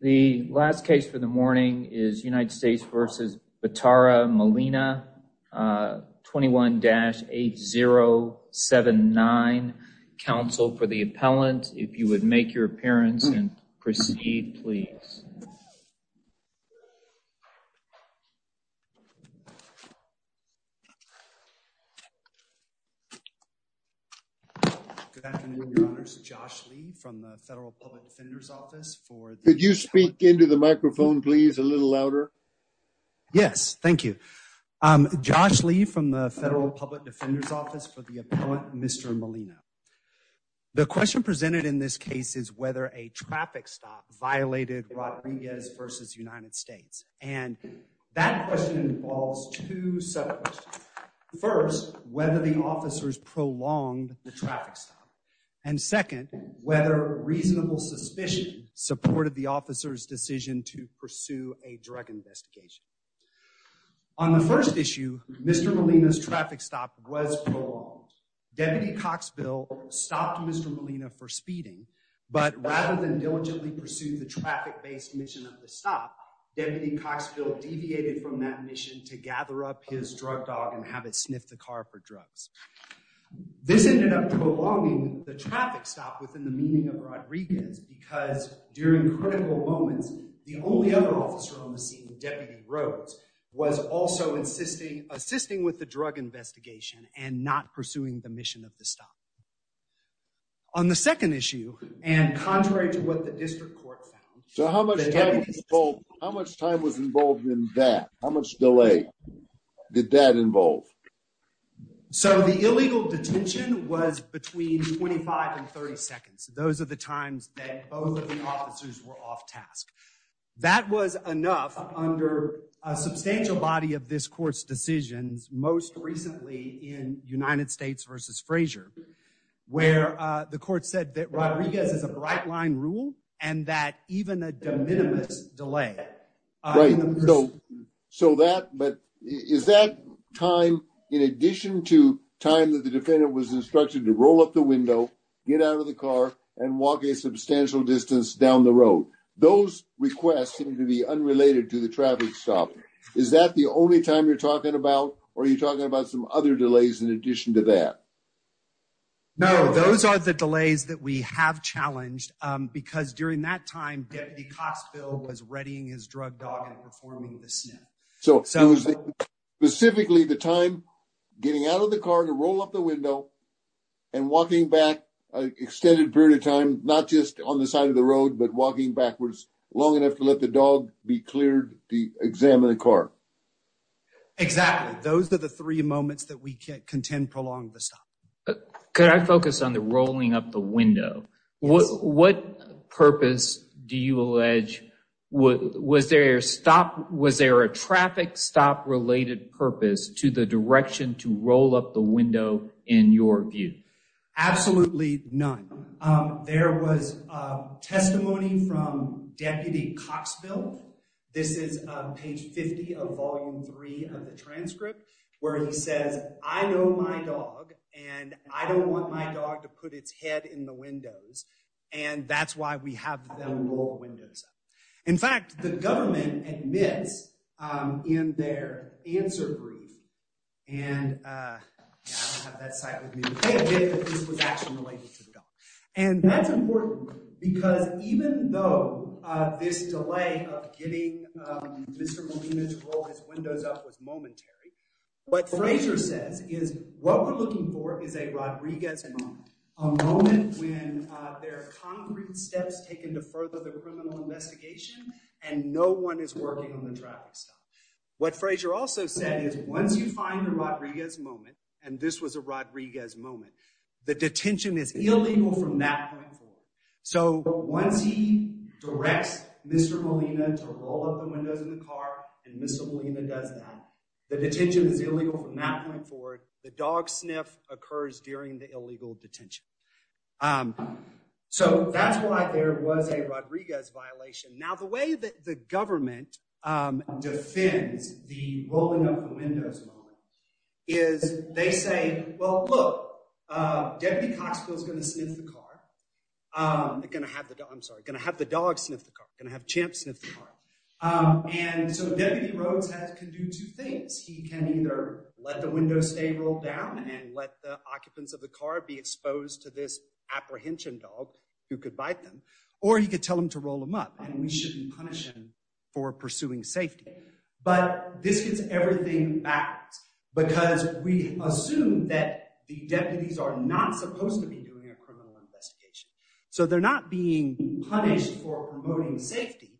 The last case for the morning is United States v. Batara-Molina, 21-8079. Counsel for the appellant, if you would make your appearance and proceed, please. Good afternoon, Your Honors. Josh Lee from the Federal Public Defender's Office for the... Could you speak into the microphone, please, a little louder? Yes, thank you. Josh Lee from the Federal Public Defender's Office for the appellant, Mr. Molina. The question presented in this case is whether a traffic stop violated Rodriguez v. United States. And that question involves two sub-questions. First, whether the officers prolonged the traffic stop. And second, whether reasonable suspicion supported the officer's decision to pursue a drug investigation. On the first issue, Mr. Molina's traffic stop was prolonged. Deputy Coxville stopped Mr. Molina for speeding, but rather than diligently pursue the traffic-based mission of the stop, Deputy Coxville deviated from that mission to gather up his drug dog and have it sniff the car for drugs. This ended up prolonging the traffic stop within the meaning of Rodriguez because during critical moments, the only other officer on the scene, Deputy Rhodes, was also assisting with the drug investigation and not pursuing the mission of the stop. On the second issue, and contrary to what the district court found... So how much time was involved in that? How much delay did that involve? So the illegal detention was between 25 and 30 seconds. Those are the times that both of the officers were off task. That was enough under a substantial body of this court's decisions, most recently in United States v. Frazier, where the court said that Rodriguez is a bright-line rule and that even a de minimis delay... So is that time, in addition to time that the defendant was instructed to roll up the window, get out of the car, and walk a substantial distance down the road? Those requests seem to be unrelated to the traffic stop. Is that the only time you're talking about, or are you talking about some other delays in addition to that? No, those are the delays that we have challenged because during that time, Deputy Coxville was readying his drug dog and performing the sniff. So it was specifically the time getting out of the car to roll up the window and walking back an extended period of time, not just on the side of the road, but walking backwards long enough to let the dog be cleared to examine the car. Exactly. Those are the three moments that we contend prolonged the stop. Could I focus on the rolling up the window? Yes. What purpose do you allege... Was there a traffic stop-related purpose to the direction to roll up the window, in your view? Absolutely none. There was testimony from Deputy Coxville. This is page 50 of volume 3 of the transcript, where he says, I know my dog, and I don't want my dog to put its head in the windows, and that's why we have them roll windows up. In fact, the government admits in their answer brief, and I don't have that site with me, they admit that this was actually related to the dog. And that's important because even though this delay of getting Mr. Molina to roll his windows up was momentary, what Frazier says is, what we're looking for is a Rodriguez moment. A moment when there are concrete steps taken to further the criminal investigation, and no one is working on the traffic stop. What Frazier also said is, once you find a Rodriguez moment, and this was a Rodriguez moment, the detention is illegal from that point forward. So once he directs Mr. Molina to roll up the windows in the car, and Mr. Molina does that, the detention is illegal from that point forward, the dog sniff occurs during the illegal detention. So that's why there was a Rodriguez violation. Now, the way that the government defends the rolling up the windows moment is, they say, well, look, Deputy Coxfield is going to sniff the car, going to have the dog, I'm sorry, going to have the dog sniff the car, going to have Champ sniff the car. And so Deputy Rhodes can do two things. He can either let the windows stay rolled down, and let the occupants of the car be exposed to this apprehension dog, who could bite them, or he could tell them to roll them up, and we shouldn't punish him for pursuing safety. But this gets everything backwards, because we assume that the deputies are not supposed to be doing a criminal investigation. So they're not being punished for promoting safety,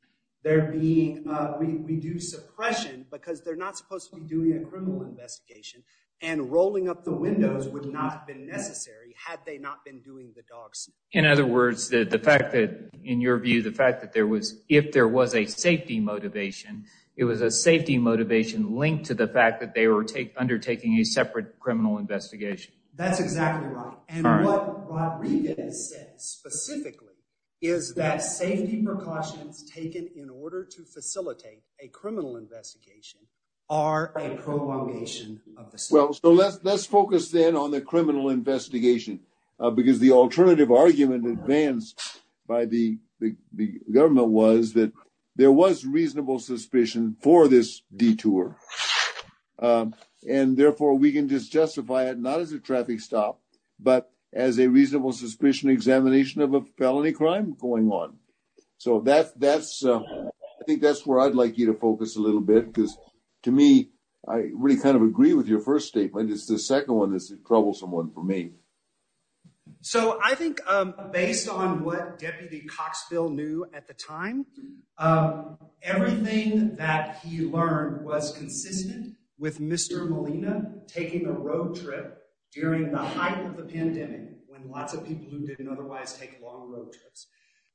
they're being, we do suppression, because they're not supposed to be doing a criminal investigation, and rolling up the windows would not have been necessary, had they not been doing the dog sniff. In other words, the fact that, in your view, the fact that there was, if there was a safety motivation, it was a safety motivation linked to the fact that they were undertaking a separate criminal investigation. That's exactly right. And what Regan has said specifically, is that safety precautions taken in order to facilitate a criminal investigation, are a prolongation of the safety. Well, so let's focus then on the criminal investigation, because the alternative argument advanced by the government was that, there was reasonable suspicion for this detour. And therefore, we can just justify it, not as a traffic stop, but as a reasonable suspicion examination of a felony crime going on. So that's, I think that's where I'd like you to focus a little bit, because to me, I really kind of agree with your first statement. It's the second one that's a troublesome one for me. So I think based on what Deputy Coxville knew at the time, everything that he learned was consistent with Mr. Molina, taking a road trip during the height of the pandemic, when lots of people who didn't otherwise take long road trips,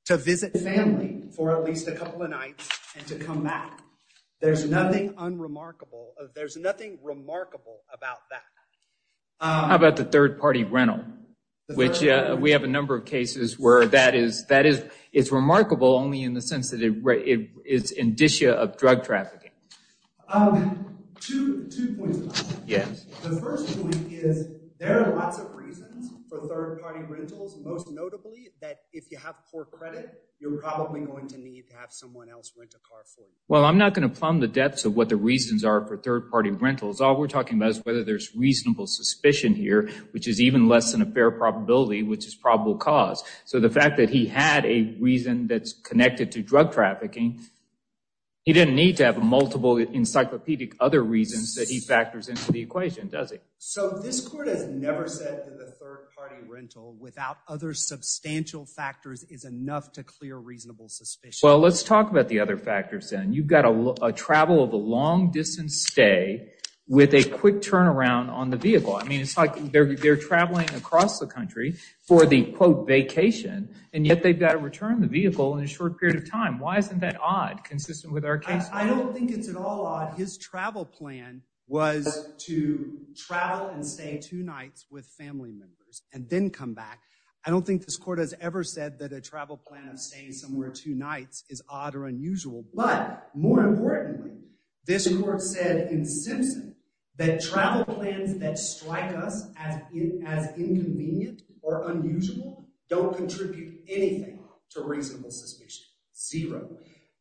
to visit family for at least a couple of nights and to come back. There's nothing unremarkable. There's nothing remarkable about that. How about the third party rental? Which we have a number of cases where that is, it's remarkable only in the sense that it's indicia of drug trafficking. Two points. The first point is there are lots of reasons for third party rentals, most notably that if you have poor credit, you're probably going to need to have someone else rent a car for you. Well, I'm not going to plumb the depths of what the reasons are for third party rentals. All we're talking about is whether there's reasonable suspicion here, which is even less than a fair probability, which is probable cause. So the fact that he had a reason that's connected to drug trafficking, he didn't need to have multiple encyclopedic other reasons that he factors into the equation, does he? So this court has never said that the third party rental, without other substantial factors, is enough to clear reasonable suspicion. Well, let's talk about the other factors then. You've got a travel of a long distance stay with a quick turnaround on the vehicle. I mean, it's like they're traveling across the country for the, quote, vacation, and yet they've got to return the vehicle in a short period of time. Why isn't that odd consistent with our case? I don't think it's at all odd. His travel plan was to travel and stay two nights with family members and then come back. I don't think this court has ever said that a travel plan of staying somewhere two nights is odd or unusual. But more importantly, this court said in Simpson that travel plans that strike us as inconvenient or unusual don't contribute anything to reasonable suspicion, zero.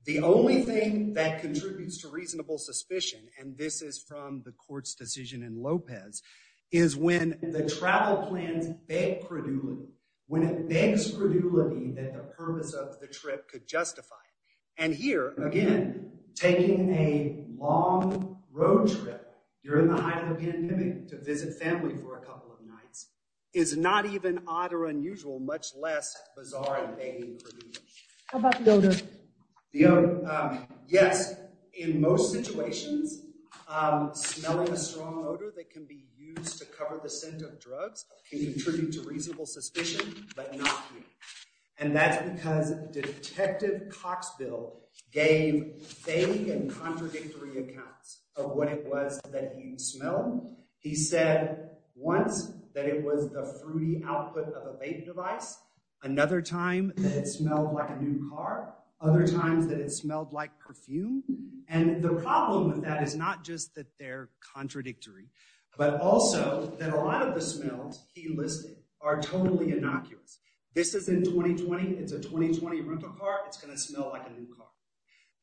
The only thing that contributes to reasonable suspicion, and this is from the court's decision in Lopez, is when the travel plans beg credulity, when it begs credulity that the purpose of the trip could justify it. And here, again, taking a long road trip during the height of the pandemic to visit family for a couple of nights is not even odd or unusual, much less bizarre and begging credulity. How about the odor? The odor. Yes, in most situations, smelling a strong odor that can be used to cover the scent of drugs can contribute to reasonable suspicion, but not here. And that's because Detective Coxbill gave vague and contradictory accounts of what it was that he smelled. He said once that it was the fruity output of a vape device, another time that it smelled like a new car, other times that it smelled like perfume. And the problem with that is not just that they're contradictory, but also that a lot of the smells he listed are totally innocuous. This is in 2020. It's a 2020 rental car. It's going to smell like a new car.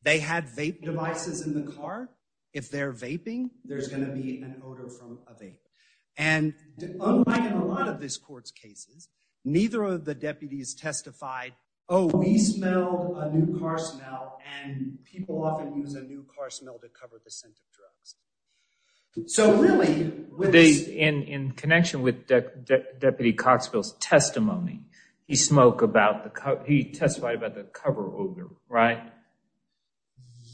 They had vape devices in the car. If they're vaping, there's going to be an odor from a vape. And unlike in a lot of this court's cases, neither of the deputies testified, oh, we smelled a new car smell, and people often use a new car smell to cover the scent of drugs. So really, in connection with Deputy Coxbill's testimony, he testified about the cover odor, right?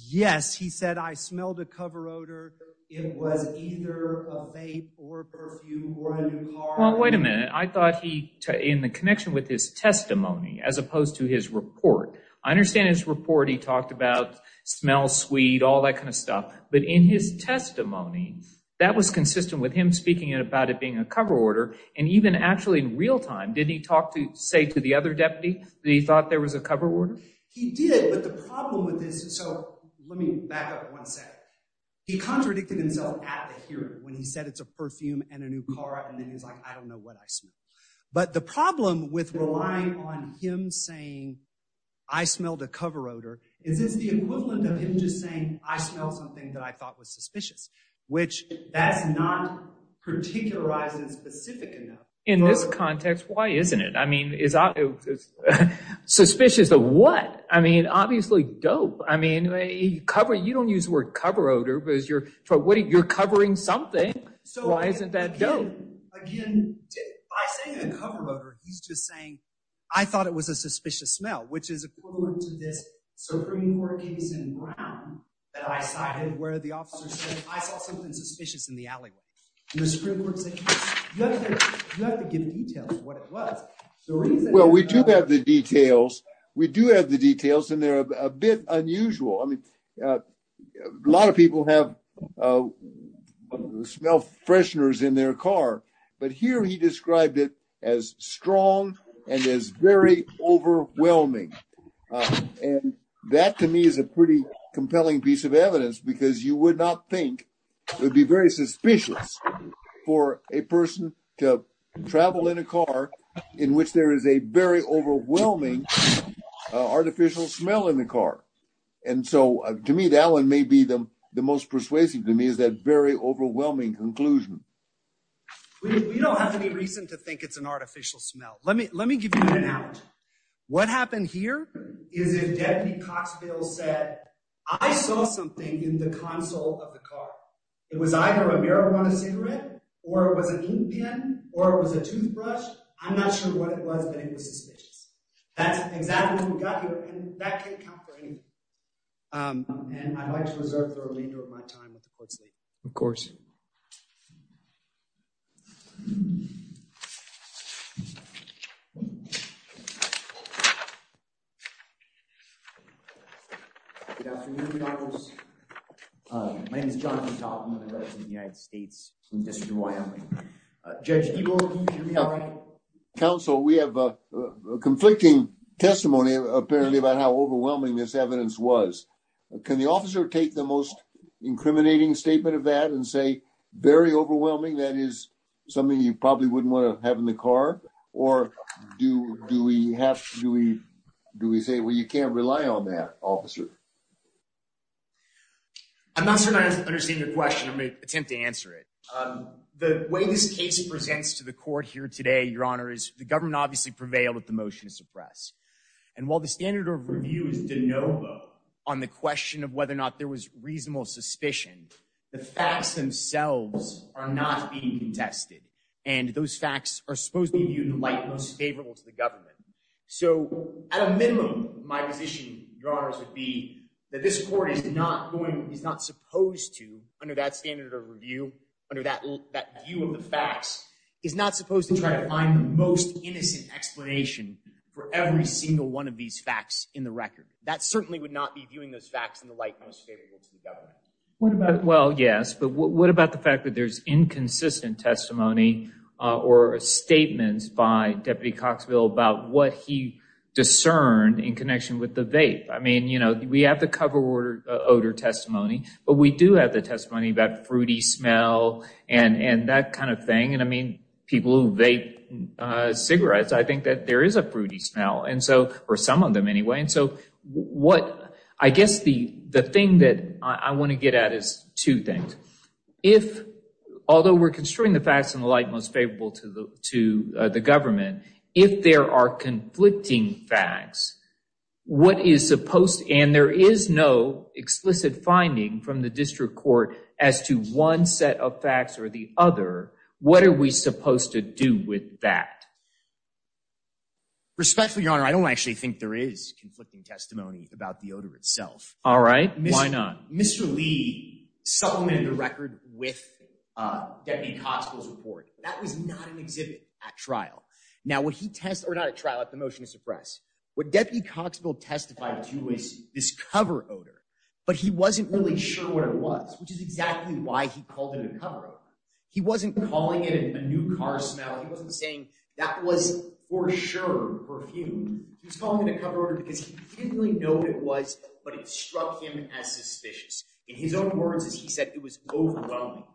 Yes, he said, I smelled a cover odor. It was either a vape or perfume or a new car. Well, wait a minute. I thought he, in the connection with his testimony, as opposed to his report, I understand his report, he talked about smells sweet, all that kind of stuff. But in his testimony, that was consistent with him speaking about it being a cover odor. And even actually in real time, didn't he talk to, say to the other deputy that he thought there was a cover odor? He did. But the problem with this, so let me back up one second. He contradicted himself at the hearing when he said it's a perfume and a new car. And then he's like, I don't know what I smell. But the problem with relying on him saying, I smelled a cover odor, is it's the equivalent of him just saying, I smell something that I thought was suspicious, which that's not particularized and specific enough. In this context, why isn't it? I mean, is it suspicious of what? I mean, obviously dope. I mean, you don't use the word cover odor, but you're covering something. Why isn't that dope? Again, by saying a cover odor, he's just saying, I thought it was a suspicious smell, which is equivalent to this Supreme Court case in Brown that I cited where the officer said, I saw something suspicious in the alleyway. And the Supreme Court said, you have to give details of what it was. Well, we do have the details. We do have the details, and they're a bit unusual. I mean, a lot of people have smell fresheners in their car, but here he described it as strong and is very overwhelming. And that to me is a pretty compelling piece of evidence, because you would not think it would be very suspicious for a person to travel in a car in which there is a very overwhelming artificial smell in the car. And so to me, that one may be the most persuasive to me is that very overwhelming conclusion. We don't have any reason to think it's an artificial smell. Let me let me give you an analogy. What happened here is if Deputy Coxville said, I saw something in the console of the car. It was either a marijuana cigarette or it was an ink pen or it was a toothbrush. I'm not sure what it was, but it was suspicious. That's exactly what we got here, and that can't count for anything. And I'd like to reserve the remainder of my time with the court's late. Of course. Good afternoon, my name is Jonathan. I'm a resident of the United States in the District of Wyoming. Judge Ebel, can you hear me all right? Counsel, we have a conflicting testimony apparently about how overwhelming this evidence was. Can the officer take the most incriminating statement of that and say very overwhelming? That is something you probably wouldn't want to have in the car. Or do do we have to do we do we say, well, you can't rely on that officer. I'm not sure I understand your question. I'm going to attempt to answer it. The way this case presents to the court here today, Your Honor, is the government obviously prevailed with the motion to suppress. And while the standard of review is de novo on the question of whether or not there was reasonable suspicion, the facts themselves are not being tested. And those facts are supposed to be viewed in light most favorable to the government. So at a minimum, my position, Your Honors, would be that this court is not going is not supposed to under that standard of review, under that view of the facts, is not supposed to try to find the most innocent explanation for every single one of these facts in the record. That certainly would not be viewing those facts in the light most favorable to the government. Well, yes. But what about the fact that there's inconsistent testimony or statements by Deputy Coxville about what he discerned in connection with the vape? I mean, you know, we have the cover order odor testimony, but we do have the testimony about fruity smell and and that kind of thing. And I mean, people who vape cigarettes, I think that there is a fruity smell. And so or some of them anyway. And so what I guess the the thing that I want to get at is two things. If although we're construing the facts in the light most favorable to the to the government, if there are conflicting facts, what is supposed? And there is no explicit finding from the district court as to one set of facts or the other. What are we supposed to do with that? Respectfully, Your Honor, I don't actually think there is conflicting testimony about the odor itself. All right. Why not? Mr. Lee supplemented the record with Deputy Coxville's report. That was not an exhibit at trial. Now, what he test or not a trial at the motion to suppress what Deputy Coxville testified to is this cover odor. But he wasn't really sure what it was, which is exactly why he called it a cover. He wasn't calling it a new car smell. He wasn't saying that was for sure perfume. He was calling it a cover order because he didn't really know what it was. But it struck him as suspicious. In his own words, as he said, it was overwhelming.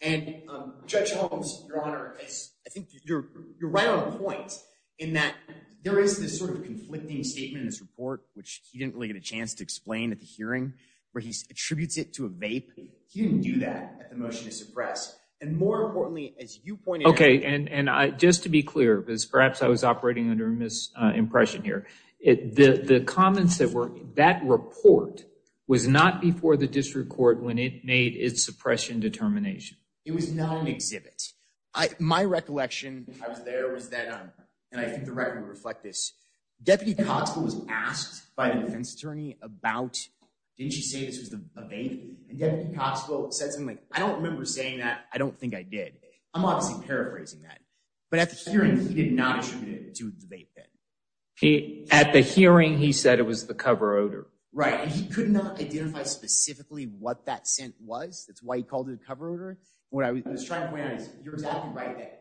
And Judge Holmes, Your Honor, I think you're right on point in that there is this sort of conflicting statement in this report, which he didn't really get a chance to explain at the hearing where he attributes it to a vape. He didn't do that at the motion to suppress. And more importantly, as you pointed out. OK. And just to be clear, because perhaps I was operating under a misimpression here. The comments that were that report was not before the district court when it made its suppression determination. It was not an exhibit. My recollection, I was there was that. And I think the record would reflect this. Deputy Coxville was asked by the defense attorney about. Didn't she say this was a vape? And Deputy Coxville said something like, I don't remember saying that. I don't think I did. I'm obviously paraphrasing that. But at the hearing, he did not attribute it to the vape. At the hearing, he said it was the cover odor. Right. He could not identify specifically what that scent was. That's why he called it a cover odor. What I was trying to point out is you're exactly right.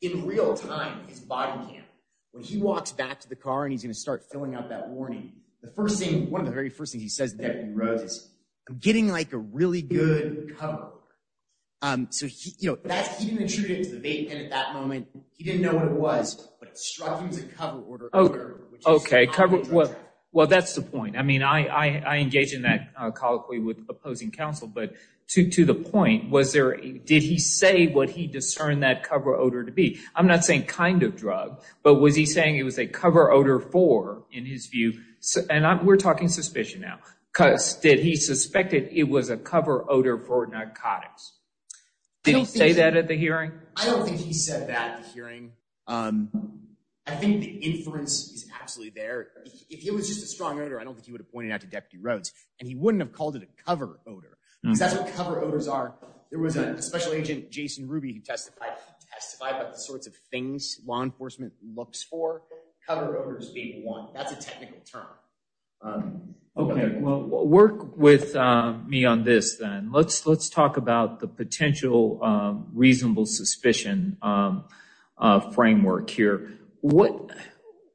In real time, his body cam, when he walks back to the car and he's going to start filling out that warning. The first thing, one of the very first thing he says that he wrote is getting like a really good cover. So, you know, that he didn't attribute it to the vape. And at that moment, he didn't know what it was. But it struck him as a cover odor. OK, cover. Well, that's the point. I mean, I engage in that colloquy with opposing counsel. But to to the point, was there did he say what he discerned that cover odor to be? I'm not saying kind of drug, but was he saying it was a cover odor for in his view? And we're talking suspicion now because did he suspected it was a cover odor for narcotics? Did he say that at the hearing? I don't think he said that at the hearing. I think the inference is absolutely there. If it was just a strong odor, I don't think he would have pointed out to Deputy Rhodes. And he wouldn't have called it a cover odor because that's what cover odors are. There was a special agent, Jason Ruby, who testified, testified about the sorts of things law enforcement looks for. Cover odors being one. That's a technical term. OK, well, work with me on this then. Let's let's talk about the potential reasonable suspicion framework here. What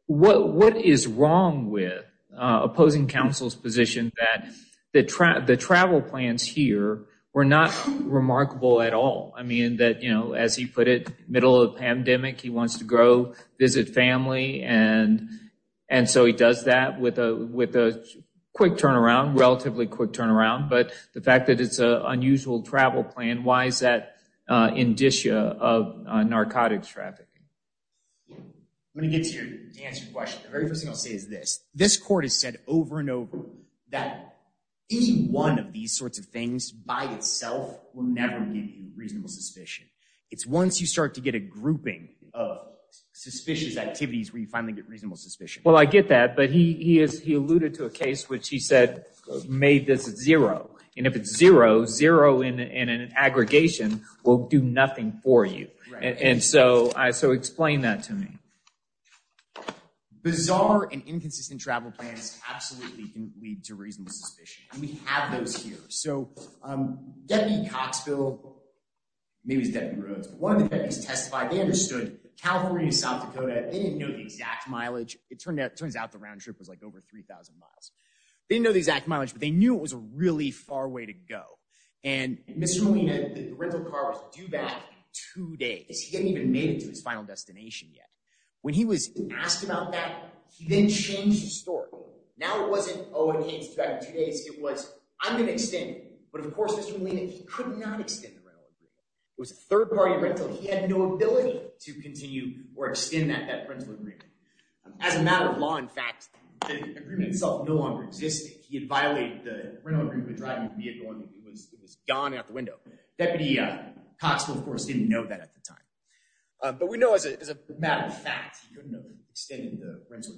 what what is wrong with opposing counsel's position that that the travel plans here were not remarkable at all? I mean, that, you know, as he put it, middle of the pandemic, he wants to go visit family. And and so he does that with a with a quick turnaround, relatively quick turnaround. But the fact that it's a unusual travel plan, why is that indicia of narcotics trafficking? When it gets here to answer your question, the very first thing I'll say is this. This court has said over and over that any one of these sorts of things by itself will never be reasonable suspicion. It's once you start to get a grouping of suspicious activities where you finally get reasonable suspicion. Well, I get that. But he is he alluded to a case which he said made this zero. And if it's zero, zero in an aggregation will do nothing for you. And so I so explain that to me. Bizarre and inconsistent travel plans absolutely can lead to reasonable suspicion. And we have those here. So Debbie Coxville. One of these testified, they understood California, South Dakota, they didn't know the exact mileage. It turned out, turns out the round trip was like over 3000 miles. They know the exact mileage, but they knew it was a really far way to go. And Mr. Molina, the rental car was due back two days. He hadn't even made it to his final destination yet. When he was asked about that, he then changed the story. Now, it wasn't, oh, and he's back in two days. It was I'm going to extend. But of course, Mr. Molina, he could not extend the rental. It was a third party rental. He had no ability to continue or extend that that rental agreement as a matter of law. In fact, the agreement itself no longer existed. He had violated the rental agreement driving vehicle. And it was gone out the window. Deputy Coxville, of course, didn't know that at the time. But we know as a matter of fact, he couldn't have extended the rental.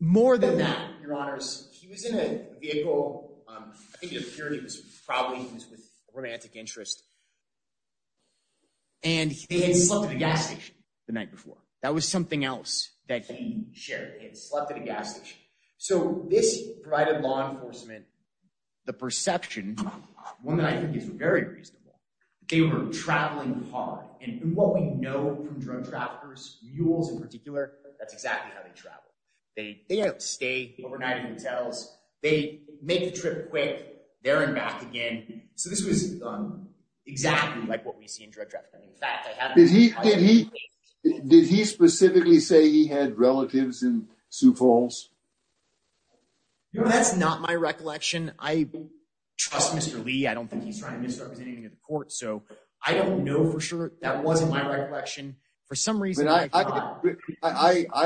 More than that, your honors, he was in a vehicle. I think it was probably with romantic interest. And he had slept at a gas station the night before. That was something else that he shared. He had slept at a gas station. So this provided law enforcement the perception, one that I think is very reasonable, they were traveling hard. And what we know from drug traffickers, mules in particular, that's exactly how they travel. They stay overnight in hotels. They make the trip quick. They're in back again. So this was exactly like what we see in drug trafficking. In fact, I have is he did he did he specifically say he had relatives in Sioux Falls? You know, that's not my recollection. I trust Mr. Lee. I don't think he's representing the court, so I don't know for sure that wasn't my recollection. For some reason, I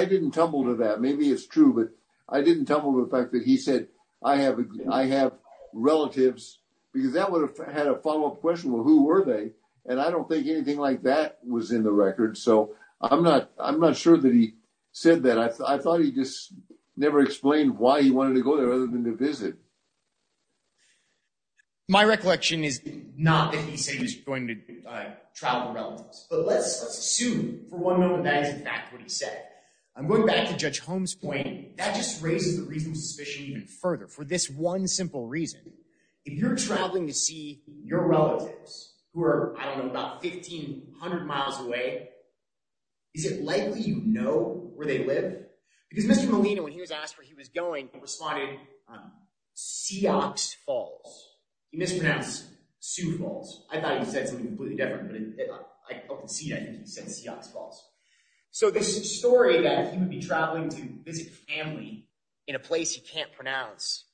didn't tumble to that. Maybe it's true. But I didn't tell him the fact that he said I have I have relatives because that would have had a follow up question. Well, who were they? And I don't think anything like that was in the record. So I'm not I'm not sure that he said that. I thought he just never explained why he wanted to go there other than to visit. My recollection is not that he's going to travel relatives, but let's assume for one moment that is in fact what he said. I'm going back to Judge Holmes point that just raises the reasonable suspicion even further for this one simple reason. If you're traveling to see your relatives who are, I don't know, about 1500 miles away. Is it likely, you know, where they live? Because Mr. Molina, when he was asked where he was going, responded Seahawks Falls. He mispronounced Sioux Falls. I thought he said something completely different, but I don't see that he said Seahawks Falls. So this story that he would be traveling to visit family in a place he can't pronounce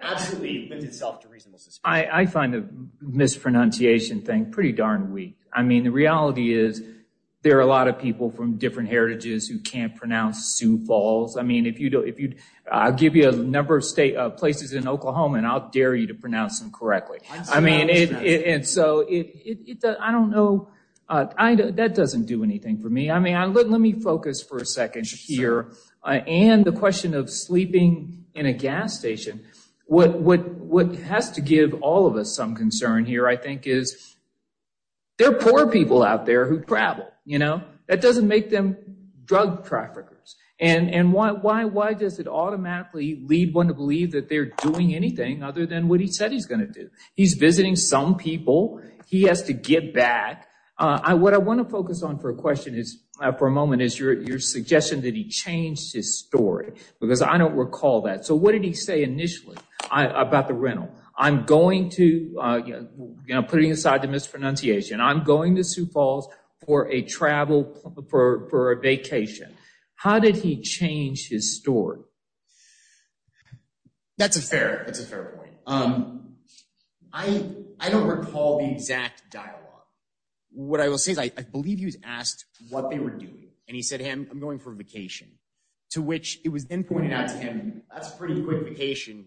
absolutely lends itself to reasonable suspicion. I find the mispronunciation thing pretty darn weak. I mean, the reality is there are a lot of people from different heritages who can't pronounce Sioux Falls. I mean, if you do, if you give you a number of places in Oklahoma and I'll dare you to pronounce them correctly. I mean, and so I don't know. That doesn't do anything for me. I mean, let me focus for a second here. And the question of sleeping in a gas station. What has to give all of us some concern here, I think, is there are poor people out there who travel. You know, that doesn't make them drug traffickers. And why does it automatically lead one to believe that they're doing anything other than what he said he's going to do? He's visiting some people. He has to get back. What I want to focus on for a question is for a moment is your suggestion that he changed his story, because I don't recall that. So what did he say initially about the rental? I'm going to, you know, putting aside the mispronunciation, I'm going to Sioux Falls for a travel, for a vacation. How did he change his story? That's a fair, that's a fair point. I don't recall the exact dialogue. What I will say is I believe he was asked what they were doing. And he said him, I'm going for a vacation, to which it was then pointed out to him. That's pretty quick vacation.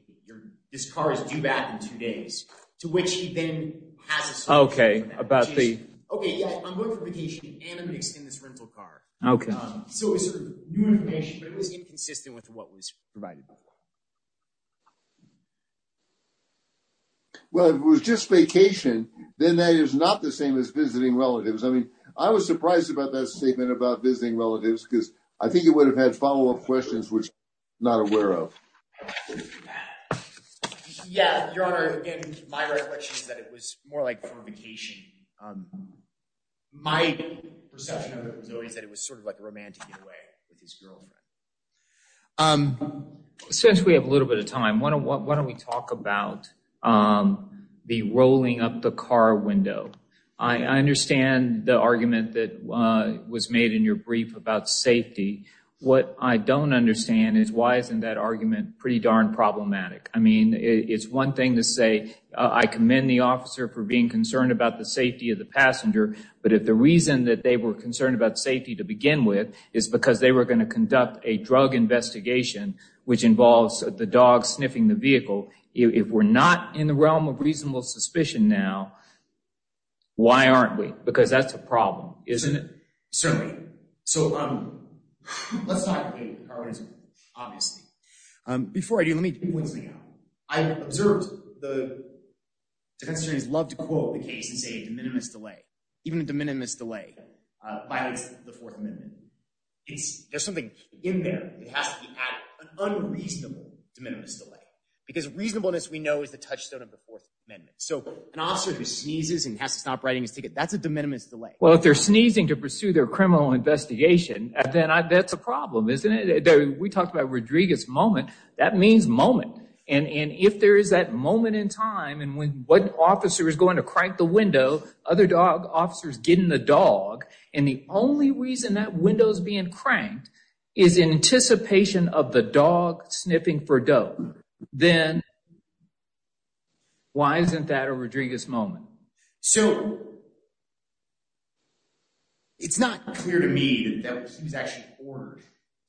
This car is due back in two days, to which he then has. Okay, about the. Okay, yeah, I'm going for vacation and I'm going to extend this rental car. Okay. So it was inconsistent with what was provided. Well, it was just vacation, then that is not the same as visiting relatives. I mean, I was surprised about that statement about visiting relatives, because I think it would have had follow up questions, which not aware of. Yeah, your honor, my recollection is that it was more like for vacation. My perception is that it was sort of like romantic in a way with his girlfriend. Since we have a little bit of time, why don't we talk about the rolling up the car window? I understand the argument that was made in your brief about safety. What I don't understand is why isn't that argument pretty darn problematic? I mean, it's one thing to say I commend the officer for being concerned about the safety of the passenger. But if the reason that they were concerned about safety to begin with is because they were going to conduct a drug investigation, which involves the dog sniffing the vehicle, if we're not in the realm of reasonable suspicion now. Why aren't we? Because that's a problem, isn't it? Certainly. So let's talk about the car windows, obviously. Before I do, let me point something out. I observed the defense attorneys love to quote the case and say a de minimis delay, even a de minimis delay violates the Fourth Amendment. There's something in there that has to be added, an unreasonable de minimis delay. Because reasonableness we know is the touchstone of the Fourth Amendment. So an officer who sneezes and has to stop writing his ticket, that's a de minimis delay. Well, if they're sneezing to pursue their criminal investigation, then that's a problem, isn't it? We talked about Rodriguez moment. That means moment. And if there is that moment in time and when one officer is going to crank the window, other officers get in the dog, and the only reason that window is being cranked is in anticipation of the dog sniffing for dough, then why isn't that a Rodriguez moment? So it's not clear to me that he was actually ordered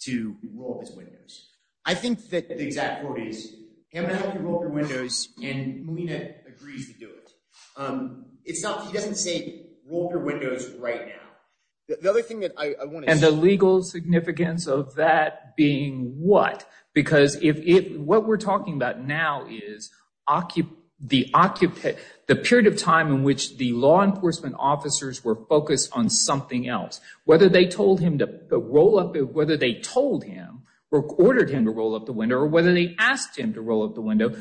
to roll his windows. I think that the exact quote is, I'm going to help you roll up your windows, and Molina agrees to do it. He doesn't say roll up your windows right now. The other thing that I want to say. And the legal significance of that being what? Because what we're talking about now is the period of time in which the law enforcement officers were focused on something else. Whether they told him to roll up, whether they told him, or ordered him to roll up the window, or whether they asked him to roll up the window,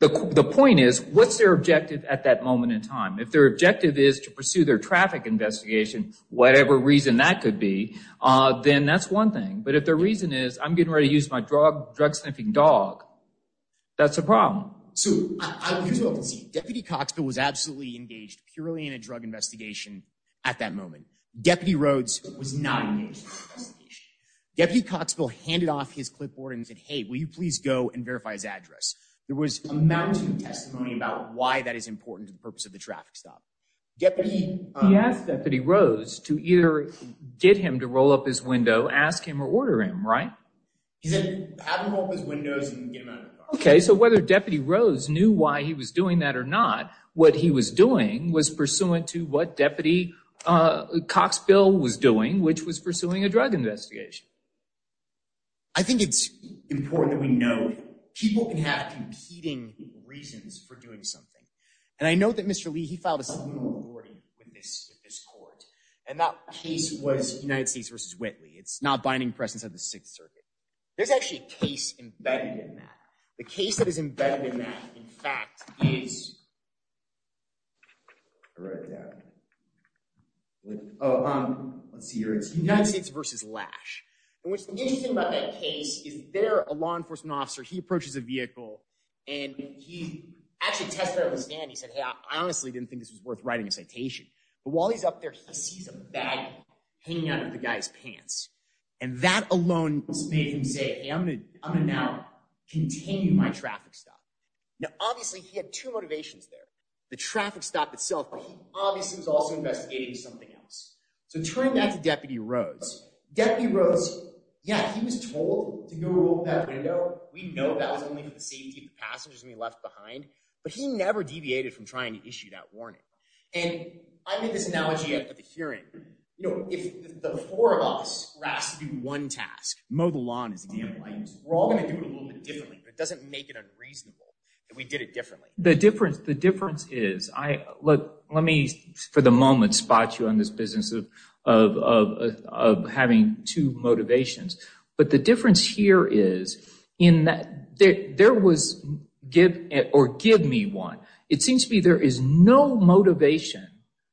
the point is, what's their objective at that moment in time? If their objective is to pursue their traffic investigation, whatever reason that could be, then that's one thing. But if their reason is, I'm getting ready to use my drug sniffing dog, that's a problem. So, Deputy Coxville was absolutely engaged purely in a drug investigation at that moment. Deputy Rhodes was not engaged in the investigation. Deputy Coxville handed off his clipboard and said, hey, will you please go and verify his address? There was a mounting testimony about why that is important to the purpose of the traffic stop. He asked Deputy Rhodes to either get him to roll up his window, ask him, or order him, right? He said have him roll up his windows and get him out of the car. Okay, so whether Deputy Rhodes knew why he was doing that or not, what he was doing was pursuant to what Deputy Coxville was doing, which was pursuing a drug investigation. I think it's important that we know people can have competing reasons for doing something. And I note that Mr. Lee, he filed a subpoena with this court. And that case was United States v. Whitley. It's not binding press inside the Sixth Circuit. There's actually a case embedded in that. The case that is embedded in that, in fact, is United States v. Lash. And what's interesting about that case is they're a law enforcement officer. He approaches a vehicle, and he actually tested it on the stand. He said, hey, I honestly didn't think this was worth writing a citation. But while he's up there, he sees a bag hanging out of the guy's pants. And that alone made him say, hey, I'm going to now continue my traffic stop. Now, obviously, he had two motivations there. The traffic stop itself, but he obviously was also investigating something else. So turning back to Deputy Rose, Deputy Rose, yeah, he was told to go over that window. We know that was only for the safety of the passengers when he left behind. But he never deviated from trying to issue that warning. And I made this analogy at the hearing. You know, if the four of us were asked to do one task, mow the lawn as a game of light, we're all going to do it a little bit differently, but it doesn't make it unreasonable that we did it differently. The difference is, let me for the moment spot you on this business of having two motivations. But the difference here is in that there was give or give me one. It seems to me there is no motivation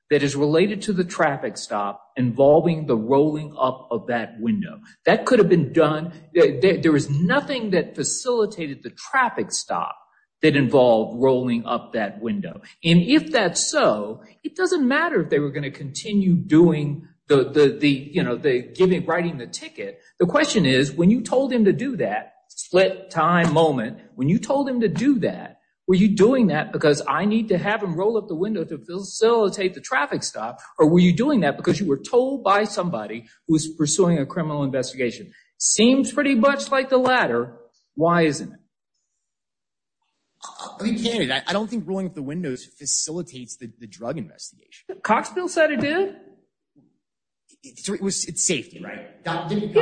that is related to the traffic stop involving the rolling up of that window. That could have been done. There was nothing that facilitated the traffic stop that involved rolling up that window. And if that's so, it doesn't matter if they were going to continue doing the, you know, the giving, writing the ticket. The question is, when you told him to do that split time moment, when you told him to do that, were you doing that because I need to have him roll up the window to facilitate the traffic stop? Or were you doing that because you were told by somebody who was pursuing a criminal investigation? Seems pretty much like the latter. Why isn't it? I don't think rolling up the windows facilitates the drug investigation. Coxpill said it did. It's safety, right? And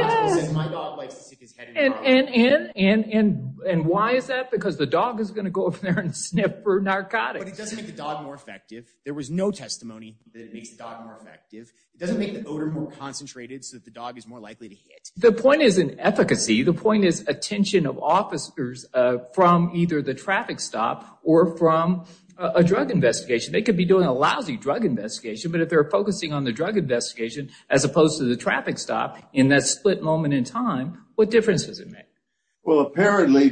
why is that? Because the dog is going to go up there and sniff for narcotics. But it doesn't make the dog more effective. There was no testimony that it makes the dog more effective. It doesn't make the odor more concentrated so that the dog is more likely to hit. The point is in efficacy. The point is attention of officers from either the traffic stop or from a drug investigation. They could be doing a lousy drug investigation, but if they're focusing on the drug investigation, as opposed to the traffic stop in that split moment in time, what difference does it make? Well, apparently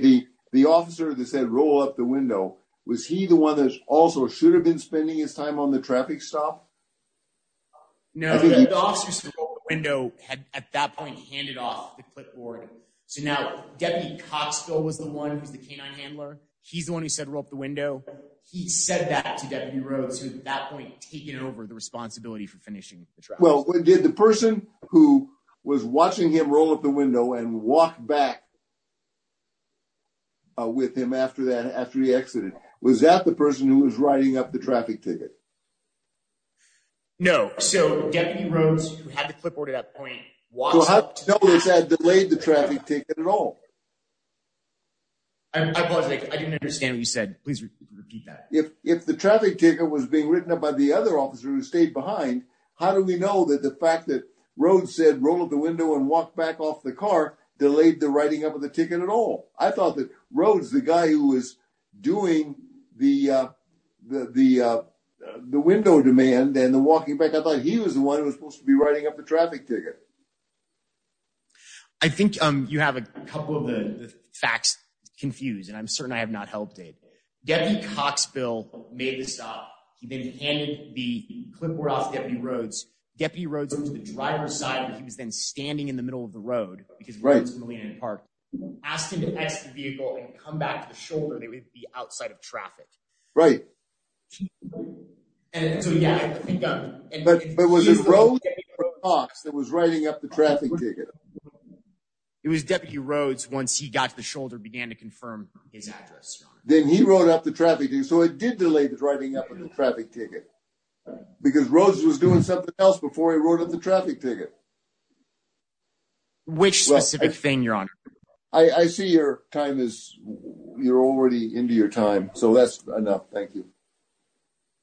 the officer that said roll up the window, was he the one that also should have been spending his time on the traffic stop? No, the officer said roll up the window at that point handed off the clipboard. So now Deputy Coxpill was the one who's the canine handler. He's the one who said roll up the window. He said that to Deputy Rhodes who at that point had taken over the responsibility for finishing the traffic stop. Well, what did the person who was watching him roll up the window and walk back with him after that, after he exited? Was that the person who was writing up the traffic ticket? No. So Deputy Rhodes who had the clipboard at that point- So how do we know that he had delayed the traffic ticket at all? I apologize. I didn't understand what you said. Please repeat that. If the traffic ticket was being written up by the other officer who stayed behind, how do we know that the fact that Rhodes said roll up the window and walk back off the car, delayed the writing up of the ticket at all? I thought that Rhodes, the guy who was doing the window demand and the walking back, I thought he was the one who was supposed to be writing up the traffic ticket. I think you have a couple of the facts confused and I'm certain I have not helped it. Deputy Coxbill made the stop. He then handed the clipboard off to Deputy Rhodes. Deputy Rhodes went to the driver's side and he was then standing in the middle of the road, because Rhodes and Molina had parked, asked him to exit the vehicle and come back to the shoulder. They would be outside of traffic. Right. So yeah, I think- But was it Rhodes or Cox that was writing up the traffic ticket? It was Deputy Rhodes once he got to the shoulder and began to confirm his address, Your Honor. Then he wrote up the traffic ticket, so it did delay the writing up of the traffic ticket, because Rhodes was doing something else before he wrote up the traffic ticket. Which specific thing, Your Honor? I see you're already into your time, so that's enough. Thank you.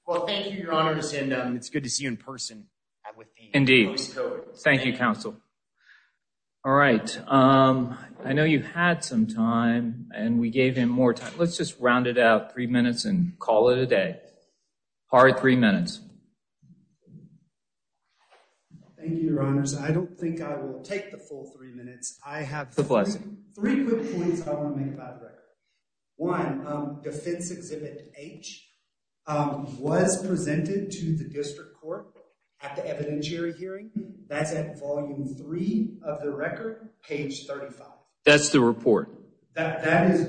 Well, thank you, Your Honors, and it's good to see you in person. Indeed. Thank you, Counsel. All right. I know you had some time and we gave him more time. Let's just round it out, three minutes, and call it a day. Harry, three minutes. Thank you, Your Honors. I don't think I will take the full three minutes. I have three quick points I want to make about the record. One, Defense Exhibit H was presented to the District Court at the evidentiary hearing. That's at volume three of the record, page 35. That's the report. That's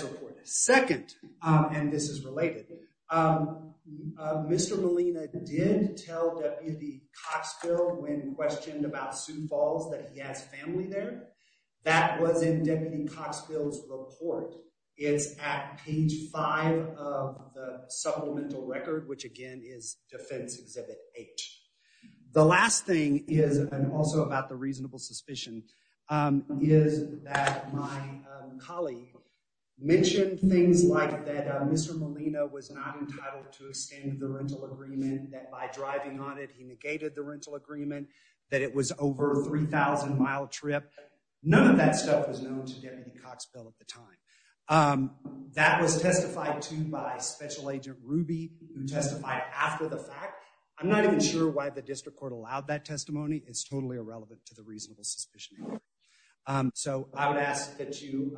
the report. Second, and this is related, Mr. Molina did tell Deputy Coxfield when questioned about Sioux Falls that he has family there. That was in Deputy Coxfield's report. It's at page five of the supplemental record, which, again, is Defense Exhibit H. The last thing is, and also about the reasonable suspicion, is that my colleague mentioned things like that Mr. Molina was not entitled to extend the rental agreement, that by driving on it he negated the rental agreement, that it was over a 3,000-mile trip. None of that stuff was known to Deputy Coxfield at the time. That was testified to by Special Agent Ruby, who testified after the fact. I'm not even sure why the District Court allowed that testimony. It's totally irrelevant to the reasonable suspicion. So I would ask that you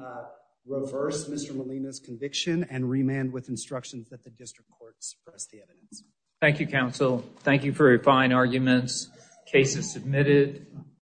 reverse Mr. Molina's conviction and remand with instructions that the District Court suppress the evidence. Thank you, counsel. Thank you for your fine arguments. Case is submitted.